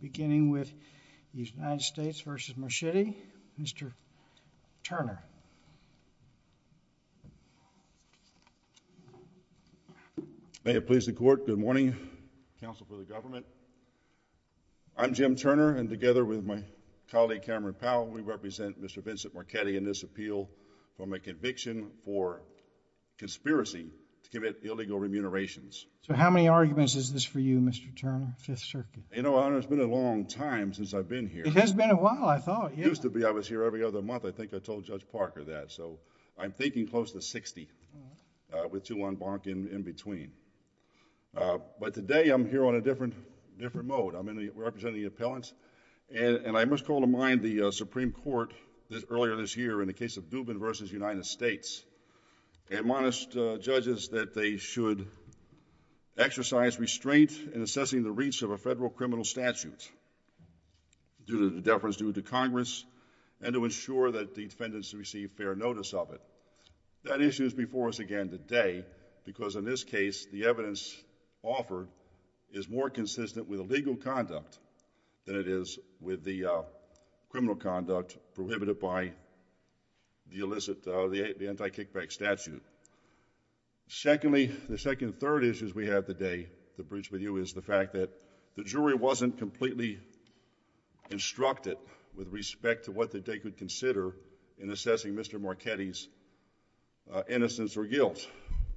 Beginning with the United States v. Marchetti, Mr. Turner. May it please the court, good morning, counsel for the government. I'm Jim Turner, and together with my colleague Cameron Powell, we represent Mr. Vincent Marchetti in this appeal for my conviction for conspiracy to commit illegal remunerations. So how many arguments is this for you, Mr. Turner, Fifth Circuit? You know, it's been a long time since I've been here. It has been a while, I thought. It used to be I was here every other month, I think I told Judge Parker that. So I'm thinking close to 60, with two en banc in between. But today I'm here on a different mode. I'm representing the appellants, and I must call to mind the Supreme Court earlier this year in the case of Dubin v. United States admonished judges that they should exercise restraint in assessing the reach of a federal criminal statute due to deference due to Congress and to ensure that the defendants receive fair notice of it. That issue is before us again today because in this case, the evidence offered is more consistent with the legal conduct than it is with the criminal conduct prohibited by the illicit, the anti-kickback statute. Secondly, the second and third issues we have today to bridge with you is the fact that the jury wasn't completely instructed with respect to what they could consider in assessing Mr. Marchetti's innocence or guilt.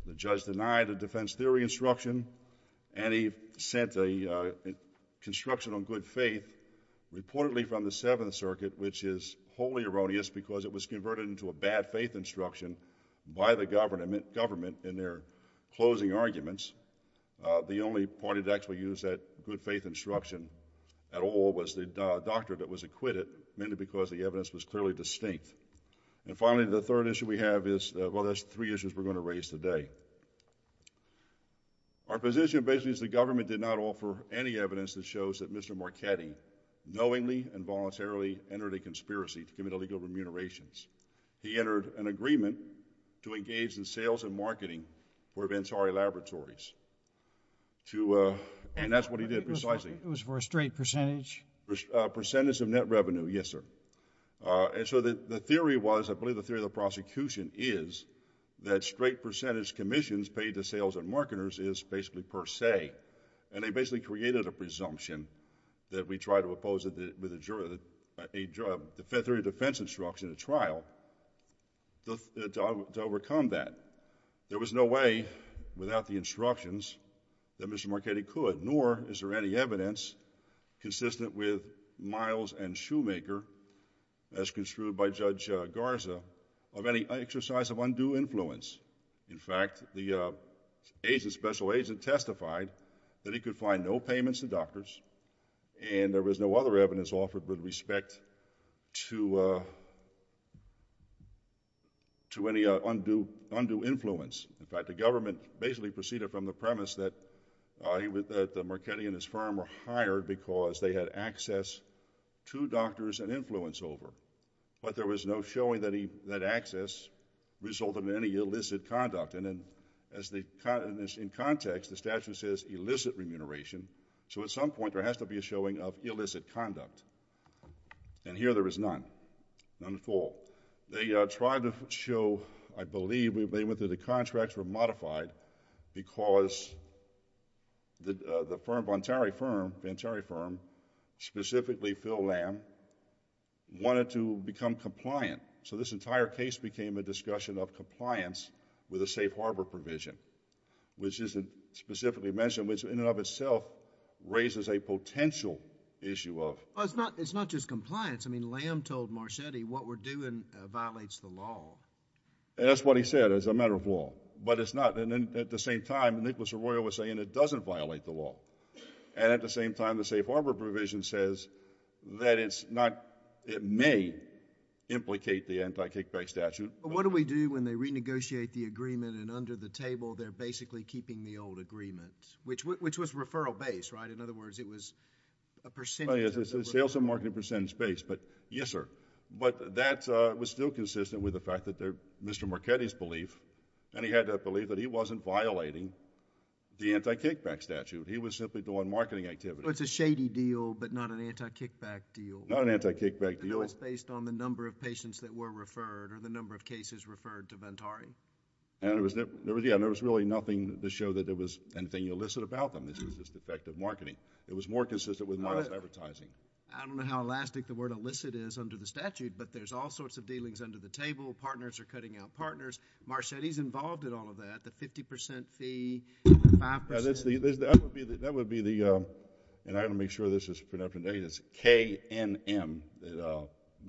The judge denied a defense theory instruction, and he sent a construction on good faith reportedly from the Seventh Circuit, which is wholly erroneous because it was converted into a government in their closing arguments. The only party that actually used that good faith instruction at all was the doctor that was acquitted mainly because the evidence was clearly distinct. And finally, the third issue we have is, well, that's three issues we're going to raise today. Our position basically is the government did not offer any evidence that shows that Mr. Marchetti knowingly and voluntarily entered a conspiracy to commit illegal remunerations. He entered an agreement to engage in sales and marketing for Vansari Laboratories. And that's what he did precisely. It was for a straight percentage? Percentage of net revenue. Yes, sir. And so, the theory was, I believe the theory of the prosecution is that straight percentage commissions paid to sales and marketers is basically per se, and they basically created a presumption that we try to oppose it with a defense instruction, a trial to overcome that. There was no way without the instructions that Mr. Marchetti could, nor is there any evidence consistent with Miles and Shoemaker as construed by Judge Garza of any exercise of undue influence. In fact, the agent, special agent testified that he could find no payments to doctors and there was no other evidence offered with respect to any undue influence. In fact, the government basically proceeded from the premise that Marchetti and his firm were hired because they had access to doctors and influence over. But there was no showing that access resulted in any illicit conduct. And in context, the statute says illicit remuneration, so at some point, there has to be a showing of illicit conduct. And here, there is none. None at all. They tried to show, I believe, they went through the contracts were modified because the firm, Bontari Firm, Bontari Firm, specifically Phil Lamb, wanted to become compliant. So this entire case became a discussion of compliance with the safe harbor provision, which isn't specifically mentioned, which in and of itself raises a potential issue of... Well, it's not just compliance. I mean, Lamb told Marchetti what we're doing violates the law. That's what he said. It's a matter of law. But it's not. And then at the same time, Nicholas Arroyo was saying it doesn't violate the law. And at the same time, the safe harbor provision says that it's not... it may implicate the anti-kickback statute. What do we do when they renegotiate the agreement and under the table, they're basically keeping the old agreement, which was referral-based, right? In other words, it was a percentage... It's a sales and marketing percentage-based, but yes, sir. But that was still consistent with the fact that Mr. Marchetti's belief, and he had that he wasn't violating the anti-kickback statute. He was simply doing marketing activity. So it's a shady deal, but not an anti-kickback deal. Not an anti-kickback deal. And it was based on the number of patients that were referred or the number of cases referred to Ventari. And it was... yeah, and there was really nothing to show that there was anything illicit about them. This was just effective marketing. It was more consistent with modest advertising. I don't know how elastic the word illicit is under the statute, but there's all sorts of dealings under the table. Partners are cutting out partners. Marchetti's involved in all of that. The 50% fee, the 5%... That would be the... and I'm going to make sure this is pretty up-to-date... the K&M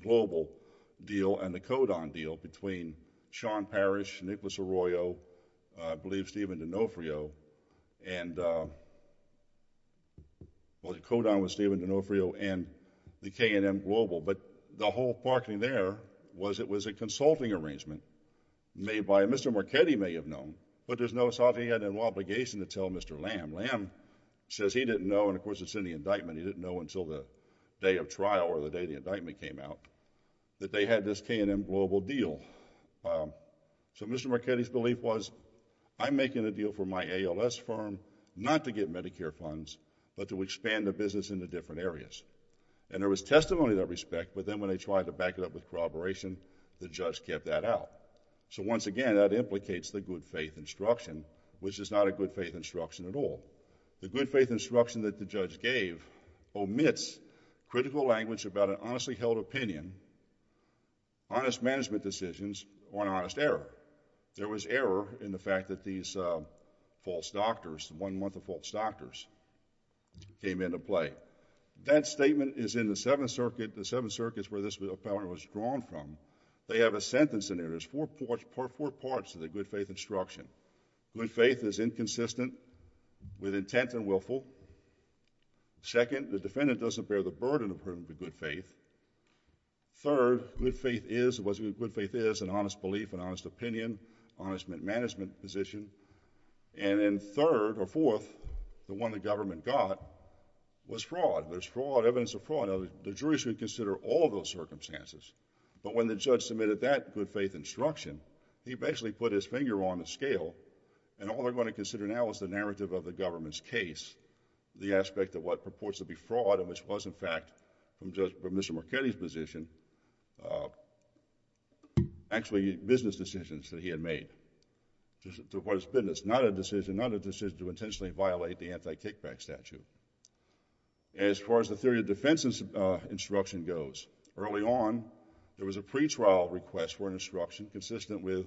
global deal and the Kodan deal between Sean Parrish, Nicholas Arroyo, I believe Stephen D'Onofrio, and... well, the Kodan was Stephen D'Onofrio and the K&M global. But the whole parking there was it was a consulting arrangement made by... Mr. Marchetti may have known, but there's no... he had an obligation to tell Mr. Lamb. Lamb says he didn't know, and of course it's in the indictment, he didn't know until the day of trial or the day the indictment came out, that they had this K&M global deal. So Mr. Marchetti's belief was, I'm making a deal for my ALS firm not to get Medicare funds, but to expand the business into different areas. And there was testimony to that respect, but then when they tried to back it up with corroboration, the judge kept that out. So once again, that implicates the good faith instruction, which is not a good faith instruction at all. The good faith instruction that the judge gave omits critical language about an honestly held opinion, honest management decisions, or an honest error. There was error in the fact that these false doctors, one month of false doctors, came into play. That statement is in the Seventh Circuit. The Seventh Circuit is where this appellant was drawn from. They have a sentence in there. There's four parts to the good faith instruction. Good faith is inconsistent with intent and willful. Second, the defendant doesn't bear the burden of good faith. Third, good faith is an honest belief, an honest opinion, honest management position. And then third, or fourth, the one the government got was fraud. There's fraud, evidence of fraud. The jury should consider all of those circumstances. But when the judge submitted that good faith instruction, he basically put his finger on the scale, and all they're going to consider now is the narrative of the government's case, the aspect of what purports to be fraud, and which was, in fact, from Mr. Marchetti's position, actually business decisions that he had made. To what it's business. Not a decision, not a decision to intentionally violate the anti-kickback statute. And as far as the theory of defense instruction goes, early on, there was a pretrial request for an instruction consistent with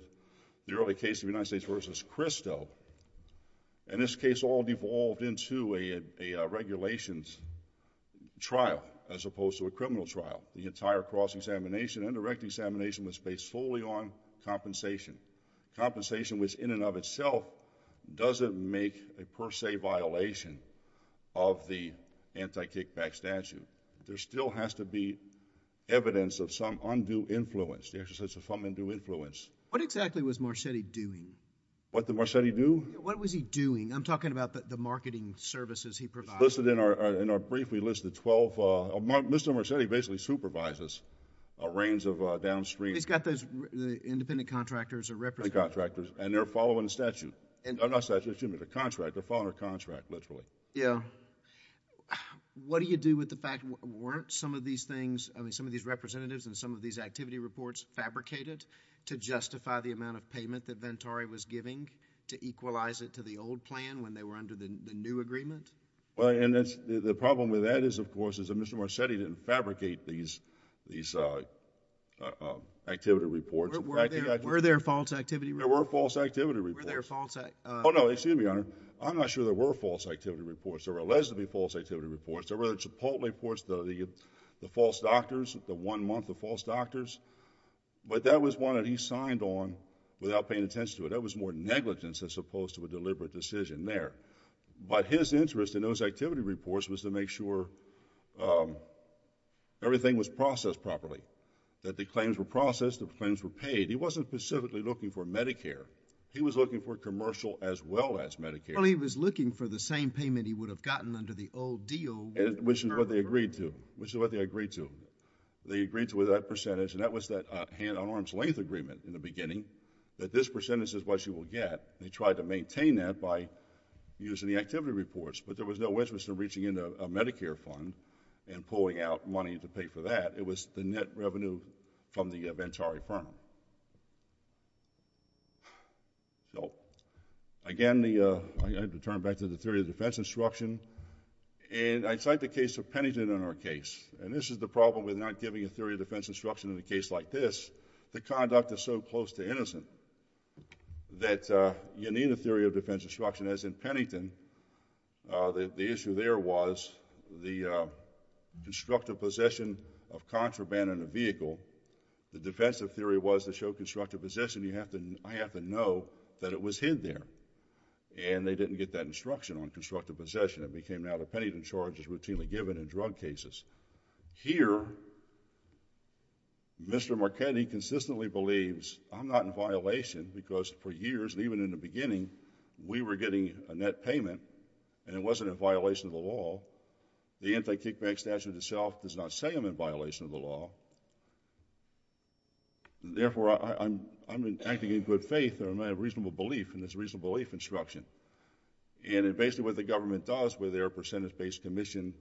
the early case of United States v. Christo, and this case all devolved into a regulations trial as opposed to a criminal trial. The entire cross-examination and direct examination was based solely on compensation. Compensation was in and of itself doesn't make a per se violation of the anti-kickback statute. There still has to be evidence of some undue influence. There's some undue influence. What exactly was Marchetti doing? What did Marchetti do? What was he doing? I'm talking about the marketing services he provided. Listed in our brief, we listed 12. Mr. Marchetti basically supervises a range of downstream. He's got those independent contractors or representatives. Contractors, and they're following the statute. Not statute, excuse me, the contract. They're following a contract, literally. Yeah. What do you do with the fact, weren't some of these things, I mean, some of these representatives and some of these activity reports fabricated to justify the amount of payment that Ventari was giving to equalize it to the old plan when they were under the new agreement? Well, and the problem with that is, of course, is that Mr. Marchetti didn't fabricate these activity reports. Were there false activity reports? There were false activity reports. Were there false... Oh no, excuse me, Your Honor. I'm not sure there were false activity reports. There were alleged to be false activity reports. There were the Chipotle reports, the false doctors, the one month of false doctors. But that was one that he signed on without paying attention to it. That was more negligence as opposed to a deliberate decision there. But his interest in those activity reports was to make sure everything was processed properly, that the claims were processed, the claims were paid. He wasn't specifically looking for Medicare. He was looking for commercial as well as Medicare. Well, he was looking for the same payment he would have gotten under the old deal. Which is what they agreed to. Which is what they agreed to. They agreed to with that percentage, and that was that hand-on-arms length agreement in the beginning, that this percentage is what you will get. They tried to maintain that by using the activity reports, but there was no way to reach into a Medicare fund and pulling out money to pay for that. It was the net revenue from the Ventari firm. So, again, I have to turn back to the theory of defense instruction. And I cite the case of Pennington in our case. And this is the problem with not giving a theory of defense instruction in a case like this. The conduct is so close to innocent that you need a theory of defense instruction. As in Pennington, the issue there was the constructive possession of contraband in a vehicle. The defensive theory was to show constructive possession, you have to, I have to know that it was hid there. And they didn't get that instruction on constructive possession. It became now the Pennington charge is routinely given in drug cases. Here, Mr. Marchetti consistently believes, I'm not in violation because for years, even in the beginning, we were getting a net payment and it wasn't in violation of the law. The anti-kickback statute itself does not say I'm in violation of the law. Therefore, I'm acting in good faith and I have reasonable belief in this reasonable belief instruction. And basically what the government does with their percentage-based commission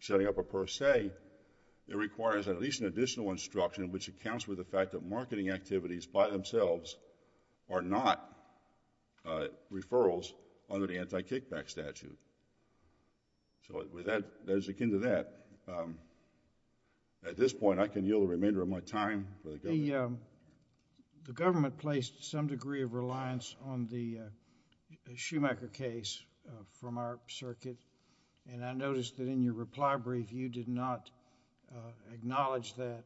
setting up a per se, it requires at least an additional instruction which accounts with the fact that there are not referrals under the anti-kickback statute. So that is akin to that. At this point, I can yield the remainder of my time for the government. The government placed some degree of reliance on the Schumacher case from our circuit and I noticed that in your reply brief, you did not acknowledge that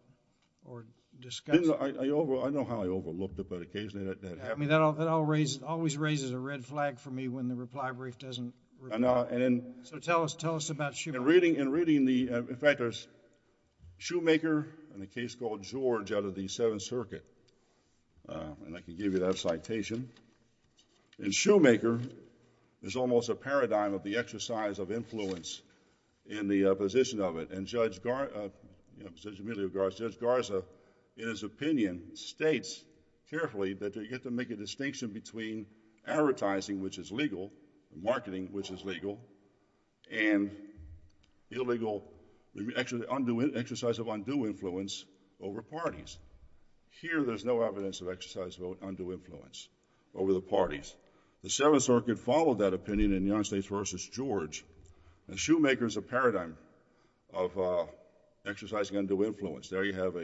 or discuss... I know how I overlooked it, but occasionally that happens. That always raises a red flag for me when the reply brief doesn't... So tell us about Schumacher. In reading the... in fact, there's Schumacher and a case called George out of the Seventh Circuit and I can give you that citation. And Schumacher is almost a paradigm of the exercise of influence in the position of it and Judge Amelia Garza, in his opinion, states carefully that you get to make a distinction between advertising, which is legal, marketing, which is legal, and illegal... actually exercise of undue influence over parties. Here, there's no evidence of exercise of undue influence over the parties. The Seventh Circuit followed that opinion in United States v. George and Schumacher is a paradigm of exercising undue influence. There you have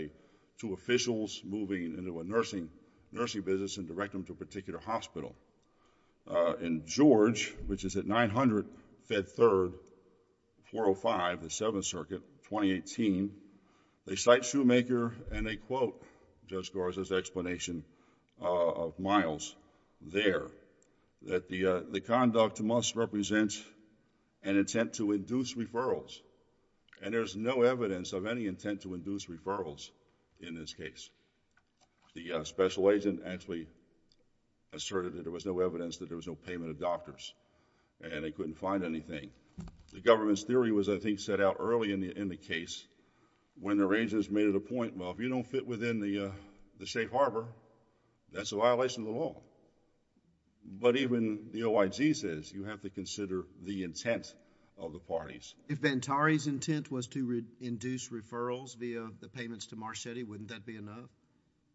two officials moving into a nursing business and direct them to a particular hospital. In George, which is at 900 Fed Third 405, the Seventh Circuit, 2018, they cite Schumacher and they quote Judge Garza's explanation of Miles there, that the conduct must represent an intent to induce referrals. And there's no evidence of any intent to induce referrals in this case. The special agent actually asserted that there was no evidence that there was no payment of doctors and they couldn't find anything. The government's theory was, I think, set out early in the case when the arrangers made it a point, well, if you don't fit within the state harbor, that's a violation of the law. But even the OIG says you have to consider the intent of the parties. If Bantari's intent was to induce referrals via the payments to Marchetti, wouldn't that be enough?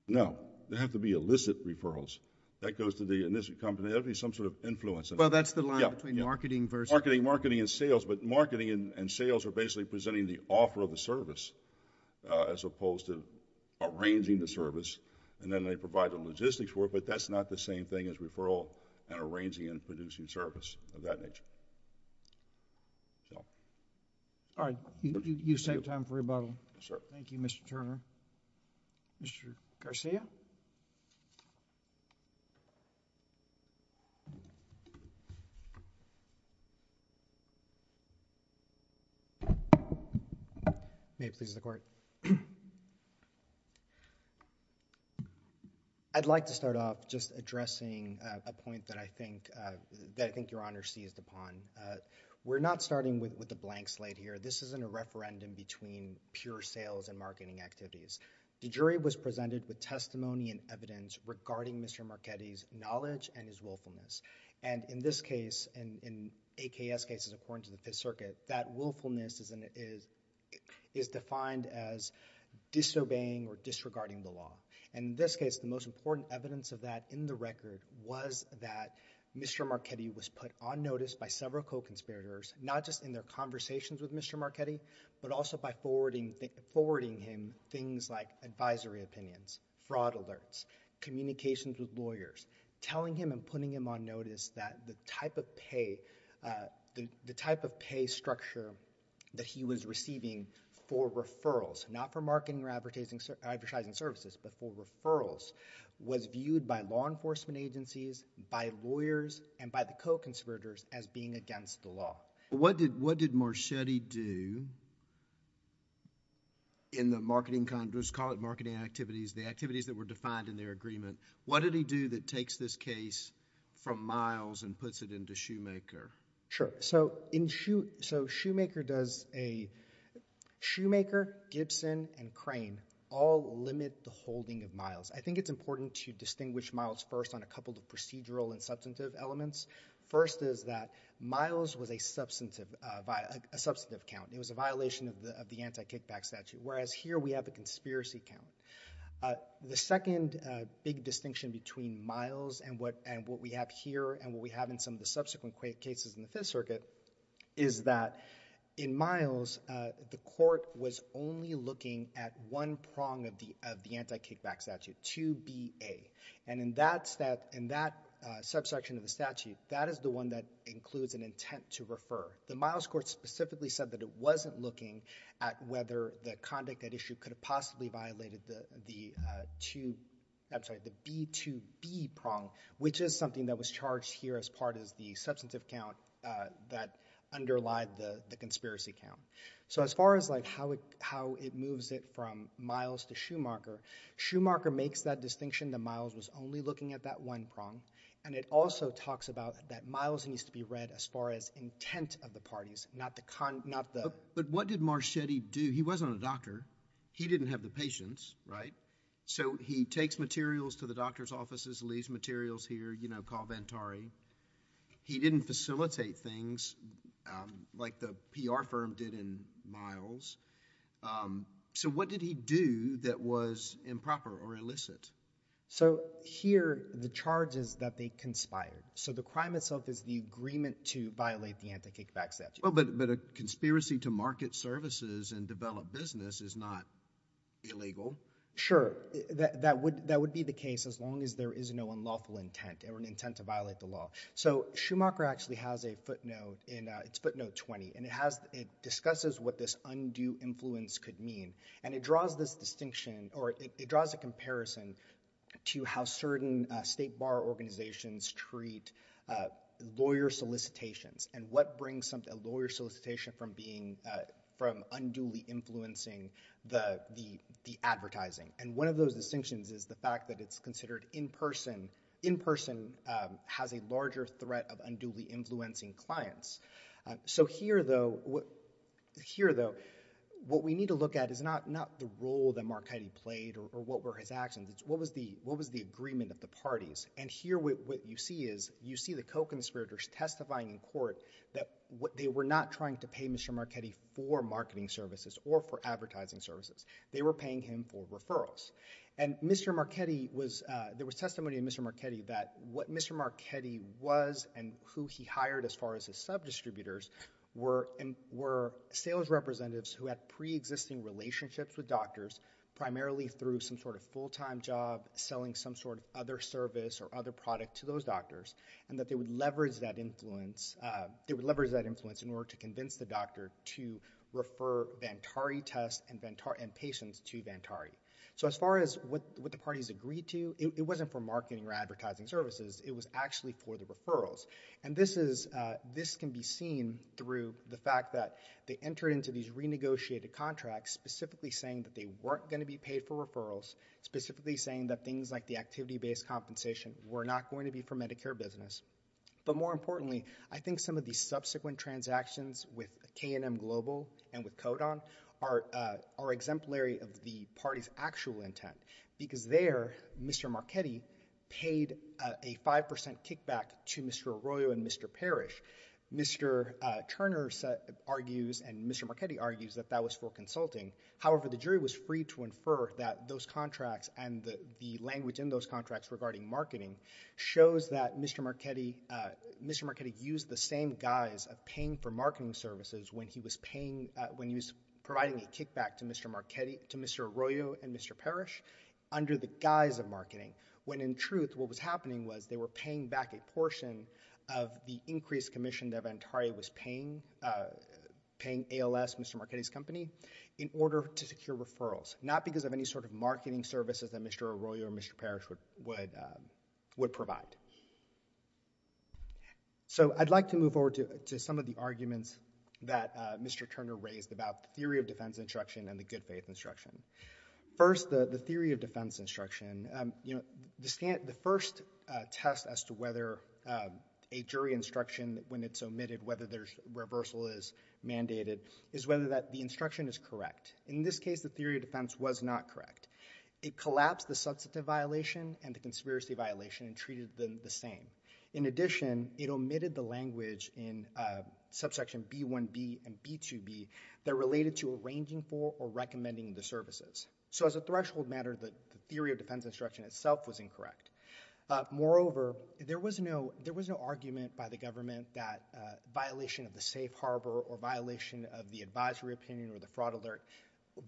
No. There have to be illicit referrals. That goes to the, in this company, there has to be some sort of influence. Well, that's the line between marketing versus. Marketing, marketing and sales, but marketing and sales are basically presenting the offer of the service as opposed to arranging the service and then they provide the logistics work, but that's not the same thing as referral and arranging and producing service of that nature. All right, you save time for rebuttal. Thank you, Mr. Turner. Mr. Garcia? May it please the Court. I'd like to start off just addressing a point that I think, that I think was raised upon. We're not starting with a blank slate here. This isn't a referendum between pure sales and marketing activities. The jury was presented with testimony and evidence regarding Mr. Marchetti's knowledge and his willfulness, and in this case, and in AKS cases according to the Fifth Circuit, that willfulness is defined as disobeying or disregarding the law. In this case, the most important evidence of that in the record was that Mr. Marchetti was noticed by several co-conspirators, not just in their conversations with Mr. Marchetti, but also by forwarding him things like advisory opinions, fraud alerts, communications with lawyers, telling him and putting him on notice that the type of pay, the type of pay structure that he was receiving for referrals, not for marketing or advertising services, but for referrals, was viewed by law enforcement agencies, by lawyers, and by co-conspirators as being against the law. What did, what did Marchetti do in the marketing, let's call it marketing activities, the activities that were defined in their agreement, what did he do that takes this case from Miles and puts it into Shoemaker? Sure. So in Shoemaker, so Shoemaker does a, Shoemaker, Gibson, and Crane all limit the holding of Miles. I think it's important to distinguish Miles first on a couple of procedural and substantive elements. First is that Miles was a substantive, a substantive count. It was a violation of the anti-kickback statute, whereas here we have a conspiracy count. The second big distinction between Miles and what, and what we have here and what we have in some of the subsequent cases in the Fifth Circuit is that in Miles, the court was only looking at one prong of the, of the anti-kickback statute, 2BA, and in that subsection of the statute, that is the one that includes an intent to refer. The Miles court specifically said that it wasn't looking at whether the conduct at issue could have possibly violated the two, I'm sorry, the B2B prong, which is something that was charged here as part of the substantive count that underlied the conspiracy count. So as far as like how it, how it moves it from Miles to Schumacher, Schumacher makes that distinction that Miles was only looking at that one prong, and it also talks about that Miles needs to be read as far as intent of the parties, not the, not the. But what did Marchetti do? He wasn't a doctor. He didn't have the patience, right? So he takes materials to the doctor's offices, leaves materials here, you know, call Ventari. He didn't facilitate things, um, like the PR firm did in Miles. Um, so what did he do that was improper or illicit? So here, the charge is that they conspired. So the crime itself is the agreement to violate the anti-kickback statute. Well, but, but a conspiracy to market services and develop business is not illegal. Sure, that, that would, that would be the case as long as there is no unlawful intent or an intent to violate the law. So Schumacher actually has a footnote in, it's footnote 20, and it has, it discusses what this undue influence could mean. And it draws this distinction, or it draws a comparison to how certain state bar organizations treat lawyer solicitations and what brings something, a lawyer solicitation from being, from unduly influencing the, the, the advertising. And one of those distinctions is the fact that it's considered in person, in person, um, has a larger threat of unduly influencing clients. So here though, what, here though, what we need to look at is not, not the role that Marchetti played or, or what were his actions. What was the, what was the agreement of the parties? And here we, what you see is, you see the co-conspirators testifying in court that what they were not trying to pay Mr. Marchetti for marketing services or for advertising services. They were paying him for referrals. And Mr. Marchetti was, uh, there was testimony in Mr. Marchetti that what Mr. Marchetti was and who he hired as far as his sub-distributors were, were sales representatives who had pre-existing relationships with doctors, primarily through some sort of full-time job, selling some sort of other service or other product to those doctors, and that they would leverage that influence, uh, they would leverage that influence in order to convince the doctor to refer Vantari tests and Vantari, and patients to Vantari. So as far as what, what the parties agreed to, it, it wasn't for marketing or advertising services. It was actually for the referrals. And this is, uh, this can be seen through the fact that they entered into these renegotiated contracts, specifically saying that they weren't going to be paid for referrals, specifically saying that things like the activity-based compensation were not going to be for Medicare business. But more importantly, I think some of the subsequent transactions with K&M Global and with Kodon are, uh, are exemplary of the party's actual intent because there, Mr. Marchetti paid a 5% kickback to Mr. Arroyo and Mr. Parrish. Mr. Turner argues and Mr. Marchetti argues that that was for consulting. However, the jury was free to infer that those contracts and the, the language in those contracts regarding marketing shows that Mr. Marchetti, uh, Mr. Marchetti used the same guise of paying for marketing services when he was paying, uh, when he was providing a kickback to Mr. Marchetti, to Mr. Arroyo and Mr. Parrish under the guise of marketing, when in truth, what was happening was they were paying back a portion of the increased commission that Ventari was paying, uh, paying ALS, Mr. Marchetti's company, in order to secure referrals, not because of any sort of marketing services that Mr. Arroyo or Mr. Parrish would, would, um, would provide. So, I'd like to move over to, to some of the arguments that, uh, Mr. Turner raised about theory of defense instruction and the good faith instruction. First, the, the theory of defense instruction, um, you know, the stand, the first, uh, test as to whether, um, a jury instruction when it's omitted, whether there's reversal is mandated, is whether that the instruction is correct. In this case, the theory of defense was not correct. It collapsed the substantive violation and the conspiracy violation and treated the same. In addition, it omitted the language in, uh, subsection B1b and B2b that related to arranging for or recommending the services. So, as a threshold matter, the theory of defense instruction itself was incorrect. Moreover, there was no, there was no argument by the government that, uh, violation of the safe harbor or violation of the advisory opinion or the fraud alert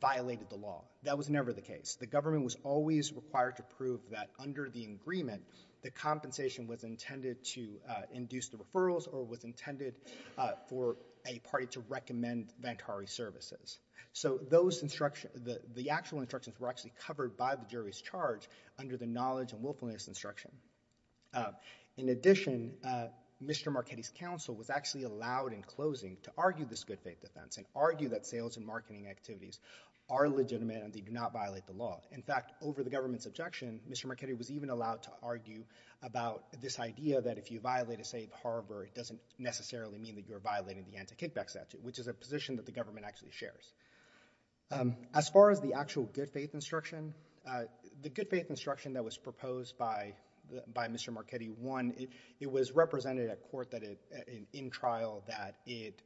violated the law. That was never the case. The government was always required to prove that under the agreement, the compensation was intended to, uh, induce the referrals or was intended, uh, for a party to recommend Ventari services. So, those instruction, the, the actual instructions were actually covered by the jury's charge under the knowledge and willfulness instruction. Uh, in addition, uh, Mr. Marchetti's counsel was actually allowed in closing to argue this good faith defense and argue that sales and marketing activities are legitimate and they do not violate the law. In fact, over the government's objection, Mr. Marchetti was even allowed to about this idea that if you violate a safe harbor, it doesn't necessarily mean that you're violating the anti-kickback statute, which is a position that the government actually shares. Um, as far as the actual good faith instruction, uh, the good faith instruction that was proposed by, by Mr. Marchetti, one, it, it was represented at court that it, in, in trial that it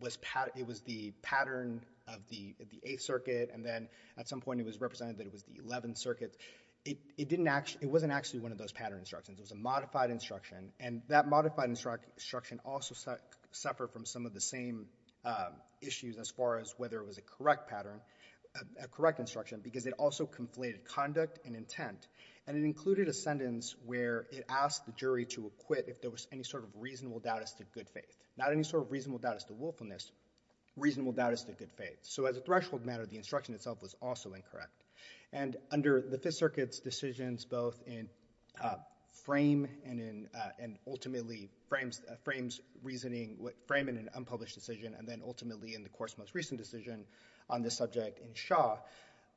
was pat, it was the pattern of the, the eighth circuit and then at some point it was represented that it was the 11th circuit. It, it didn't actually, it wasn't actually one of those pattern instructions. It was a modified instruction and that modified instruction also suffered from some of the same, um, issues as far as whether it was a correct pattern, a correct instruction because it also conflated conduct and intent and it included a sentence where it asked the jury to acquit if there was any sort of reasonable doubt as to good faith. Not any sort of reasonable doubt as to willfulness, reasonable doubt as to good faith. So, as a threshold matter, the instruction itself was also incorrect. And under the Fifth Circuit's decisions both in, uh, frame and in, uh, and ultimately frames, uh, frames reasoning, framing an unpublished decision and then ultimately in the court's most recent decision on this subject in Shaw,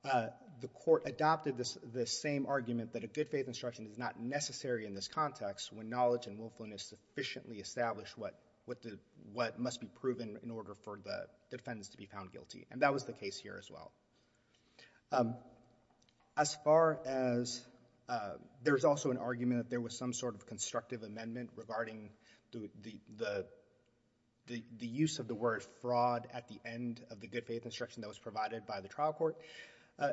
uh, the court adopted this, this same argument that a good faith instruction is not necessary in this context when knowledge and willfulness sufficiently establish what, what the, what must be proven in order for the defendants to be found guilty. And that was the case here as well. Um, as far as, uh, there was also an argument that there was some sort of constructive amendment regarding the, the, the, the, the use of the word fraud at the end of the good faith instruction that was provided by the trial court. Uh,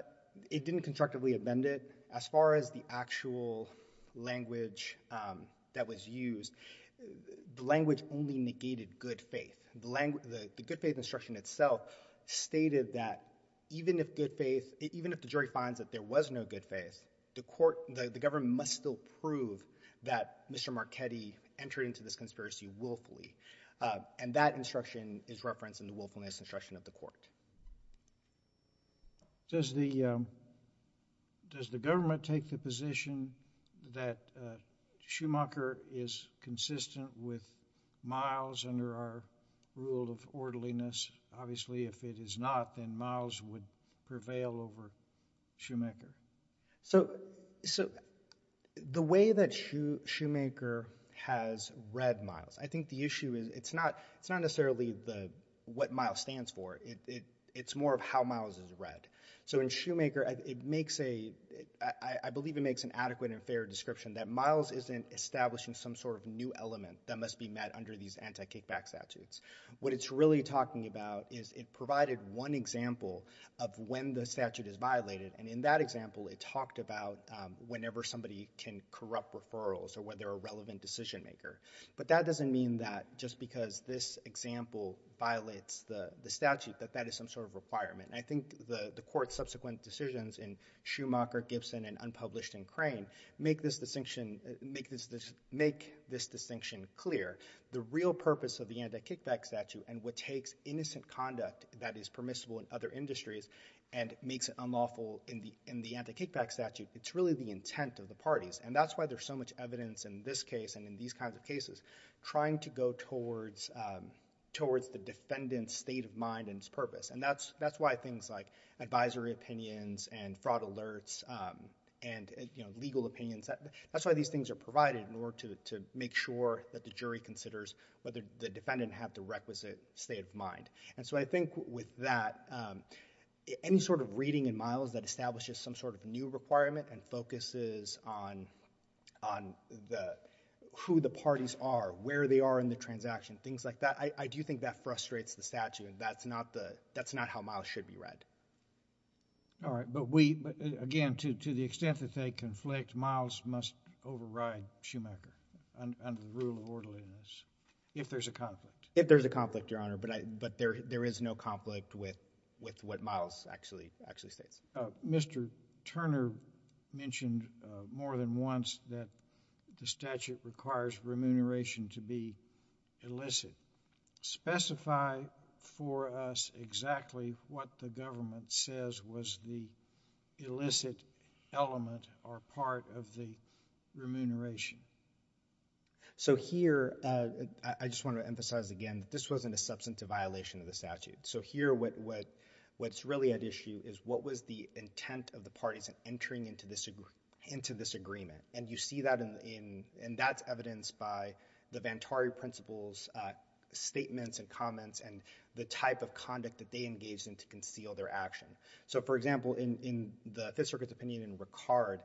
it didn't constructively amend it. As far as the actual language, um, that was used, the language only negated good faith. The language, the, the good faith instruction itself stated that even if good faith, even if the jury finds that there was no good faith, the court, the, the government must still prove that Mr. Marchetti entered into this conspiracy willfully. Uh, and that instruction is referenced in the willfulness instruction of the court. Does the, um, does the government take the position that, uh, Schumacher is consistent with Miles under our rule of orderliness? Obviously, if it is not, then Miles would prevail over Schumacher. So, so the way that Shoemaker has read Miles, I think the issue is it's not, it's not necessarily the, what Miles stands for. It, it, it's more of how Miles is read. So in Schumacher, it makes a, I, I believe it makes an adequate and fair description that Miles isn't establishing some sort of new element that must be met under these anti-kickback statutes. What it's really talking about is it provided one example of when the statute is violated. And in that example, it talked about, um, whenever somebody can corrupt referrals or whether a relevant decision maker, but that doesn't mean that just because this example violates the statute, that that is some sort of requirement. And I think the, the court's subsequent decisions in Schumacher, Gibson and unpublished in Crane, make this distinction, make this, this, make this distinction clear. The real purpose of the anti-kickback statute and what takes innocent conduct that is permissible in other industries and makes it unlawful in the, in the anti-kickback statute, it's really the intent of the parties. And that's why there's so much evidence in this case and in these kinds of cases, trying to go towards, um, towards the defendant's state of mind and its purpose. And that's, that's why things like advisory opinions and fraud alerts, um, and, you know, legal opinions, that, that's why these things are provided in order to, to make sure that the jury considers whether the defendant had the requisite state of mind. And so I think with that, um, any sort of reading in Miles that establishes some sort of new requirement and focuses on, on the, who the parties are, where they are in the transaction, things like that, I, I do think that frustrates the statute. That's not the, that's not how Miles should be read. All right. But we, but again, to, to the extent that they conflict, Miles must override Schumacher under the rule of orderliness if there's a conflict. If there's a conflict, Your Honor, but I, but there, there is no conflict with, with what Miles actually, actually states. Uh, Mr. Turner mentioned, uh, more than once that the statute requires remuneration to be illicit. Specify for us exactly what the government says was the illicit element or part of the remuneration. So here, uh, I, I just want to emphasize again, this wasn't a substantive violation of the statute. So here, what, what, what's really at issue is what was the intent of the parties entering into this, into this agreement? And you see that in, in, and that's evidenced by the Vantari principles, uh, statements and comments and the type of conduct that they engaged in to conceal their action. So for example, in, in the Fifth Circuit's opinion in Ricard,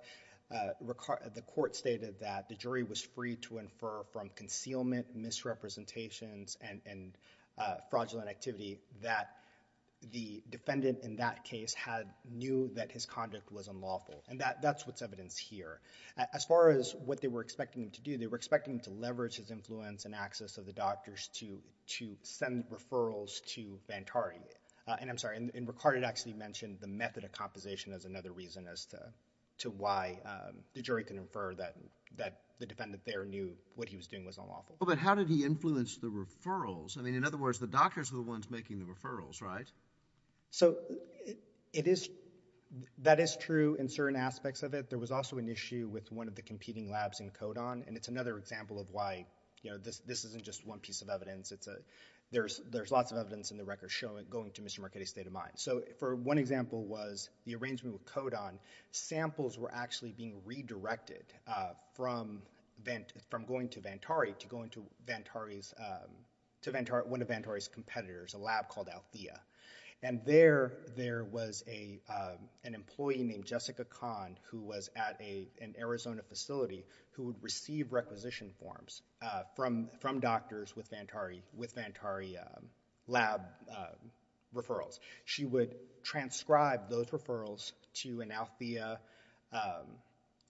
uh, Ricard, the court stated that the jury was free to infer from concealment, misrepresentations, and, and, uh, fraudulent activity that the defendant in that case had, knew that his conduct was unlawful. And that, that's what's evidenced here. As far as what they were expecting him to do, they were expecting him to leverage his influence and access of the doctors to, to send referrals to Vantari. Uh, and I'm sorry, in, in Ricard, it actually mentioned the method of compensation as another reason as to, to why, um, the jury can infer that, that the defendant there knew what he was doing was unlawful. Well, but how did he influence the referrals? I mean, in other words, the doctors are the ones making the referrals, right? So it, it is, that is true in certain aspects of it. There was also an issue with one of the competing labs in Kodan. And it's another example of why, you know, this, this isn't just one piece of evidence. It's a, there's, there's lots of evidence in the record showing, going to Mr. Marchetti's state of mind. So for one example was the arrangement with Kodan. Samples were actually being redirected, uh, from Vant, from going to Vantari to going to Vantari's, um, to Vantari, one of Vantari's competitors, a lab called Althea. And there, there was a, um, an employee named Jessica Kahn who was at a, an Arizona facility who would receive requisition forms, uh, from, from doctors with Vantari, with Vantari, um, lab, uh, referrals. She would transcribe those referrals to an Althea, um,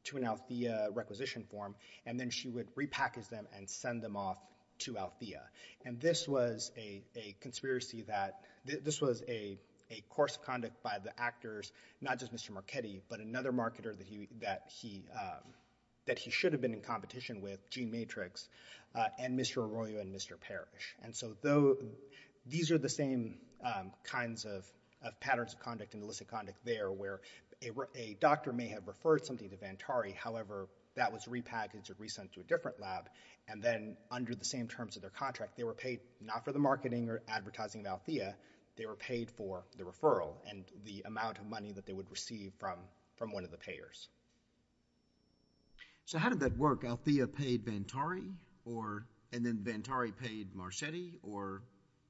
to an Althea requisition form. And then she would repackage them and send them off to Althea. And this was a, a conspiracy that, this was a, a course of conduct by the actors, not just Mr. Marchetti, but another marketer that he, that he, um, that he should have been in competition with, Gene Matrix, uh, and Mr. Arroyo and Mr. Parrish. And so though these are the same, um, kinds of, of patterns of conduct and illicit conduct there where a, a doctor may have referred something to Vantari. However, that was repackaged or resend to a different lab. And then under the same terms of their contract, they were paid not for the marketing or advertising of Althea. They were paid for the referral and the amount of money that they would receive from, from one of the payers. So how did that work? Althea paid Vantari or, and then Vantari paid Marchetti or?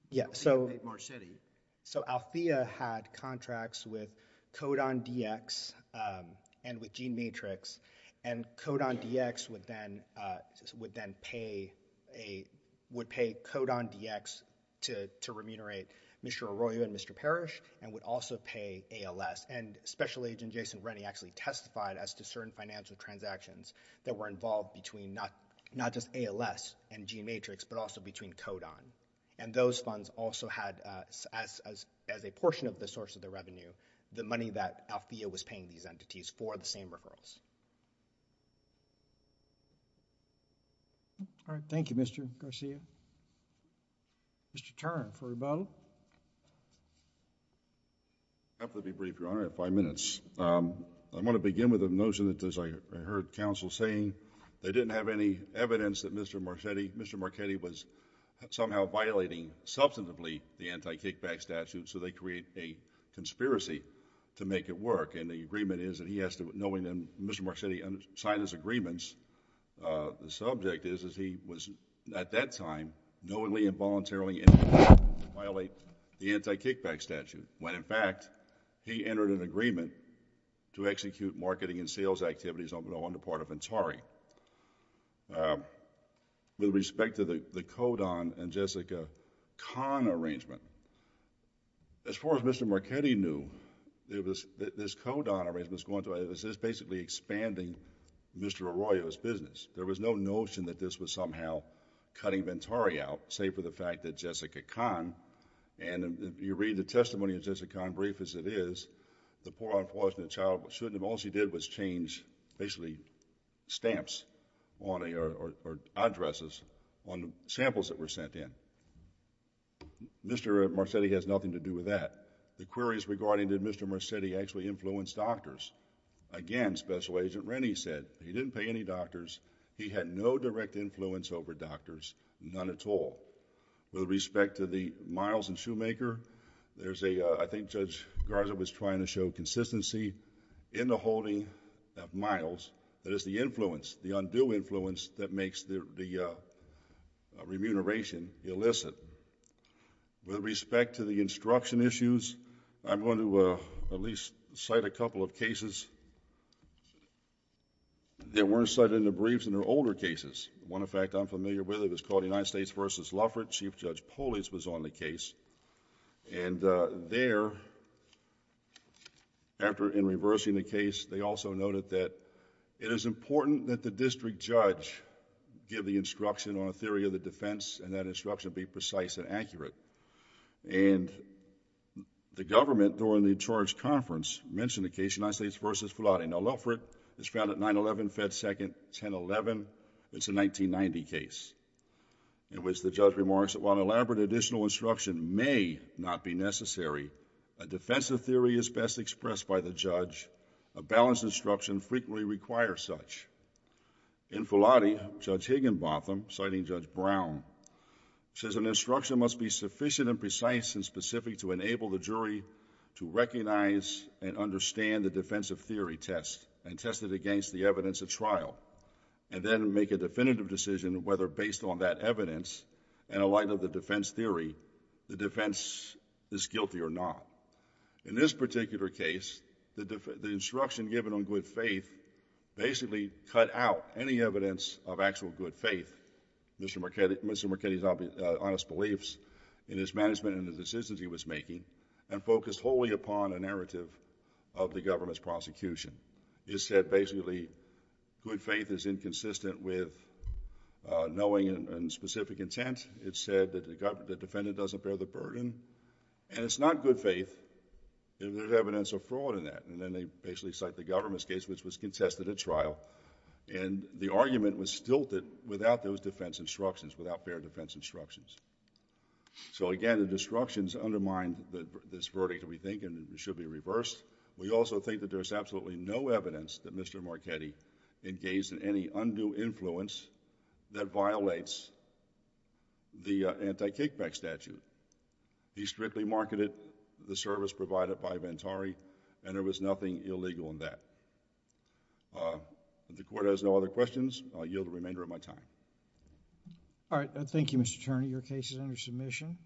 Yeah. So Marchetti. So Althea had contracts with Codon DX, um, and with Gene Matrix and Codon DX would then, uh, would then pay a, would pay Codon DX to, to remunerate Mr. Arroyo and Mr. Parrish and would also pay ALS. And special agent Jason Rennie actually testified as to certain financial transactions that were involved between not, not just ALS and Gene Matrix, but also between Codon. And those funds also had, uh, as, as, as a portion of the source of the revenue, the money that Althea was paying these entities for the same referrals. All right. Thank you, Mr. Garcia. Mr. Turner for rebuttal. I'll be brief, Your Honor, I have five minutes. Um, I want to begin with a notion that as I heard counsel saying they didn't have any evidence that Mr. Marchetti, Mr. Marchetti was somehow violating substantively the anti-kickback statute. So they create a conspiracy to make it work. And the agreement is that he has to, knowing them, Mr. Marchetti signed his agreements. Uh, the subject is, is he was at that time knowingly and voluntarily violate the anti-kickback statute. When in fact he entered an agreement to execute marketing and sales activities on the, on the part of Antari. Um, with respect to the, the Codon and Jessica Kahn arrangement, as far as Mr. Marchetti knew, it was this Codon arrangement was going to, it was just basically expanding Mr. Arroyo's business. There was no notion that this was somehow cutting Antari out, save for the fact that Jessica Kahn, and if you read the testimony of Jessica Kahn, brief as it is, the poor unfortunate child shouldn't have, all she did was change basically stamps on a, or, or addresses on samples that were sent in. Mr. Marchetti has nothing to do with that. The queries regarding did Mr. Marchetti actually influence doctors? Again, Special Agent Rennie said he didn't pay any doctors. He had no direct influence over doctors, none at all. With respect to the Miles and Shoemaker, there's a, uh, I think Judge Garza was trying to show consistency in the holding of Miles, that is the influence, the undue influence that makes the, the, uh, remuneration illicit. With respect to the instruction issues, I'm going to, uh, at least cite a number of cases that weren't cited in the briefs in their older cases. One, in fact, I'm familiar with it. It was called United States versus Lufford. Chief Judge Polis was on the case, and, uh, there, after, in reversing the case, they also noted that it is important that the district judge give the instruction on a theory of the defense, and that instruction be precise and accurate, and the government, during the charge conference, mentioned United States versus Fulati. Now, Lufford is found at 9-11, Fed Second, 10-11. It's a 1990 case in which the judge remarks that while an elaborate additional instruction may not be necessary, a defensive theory is best expressed by the judge. A balanced instruction frequently requires such. In Fulati, Judge Higginbotham, citing Judge Brown, says an instruction must be sufficient and precise and specific to enable the jury to recognize and understand the defensive theory test, and test it against the evidence at trial, and then make a definitive decision whether based on that evidence, in light of the defense theory, the defense is guilty or not. In this particular case, the instruction given on good faith basically cut out any evidence of actual good faith, Mr. Marchetti's honest beliefs in his management and the decisions he was making, and focused wholly upon a defense of the government's prosecution. It said basically good faith is inconsistent with knowing and specific intent. It said that the defendant doesn't bear the burden, and it's not good faith if there's evidence of fraud in that, and then they basically cite the government's case which was contested at trial, and the argument was stilted without those defense instructions, without fair defense instructions. So again, the destructions undermined this verdict, we think, and it should be reversed. We also think that there's absolutely no evidence that Mr. Marchetti engaged in any undue influence that violates the anti-kickback statute. He strictly marketed the service provided by Ventari, and there was nothing illegal in that. The Court has no other questions. I'll yield the remainder of my time. All right. Thank you, Mr. Attorney. Your case is under submission.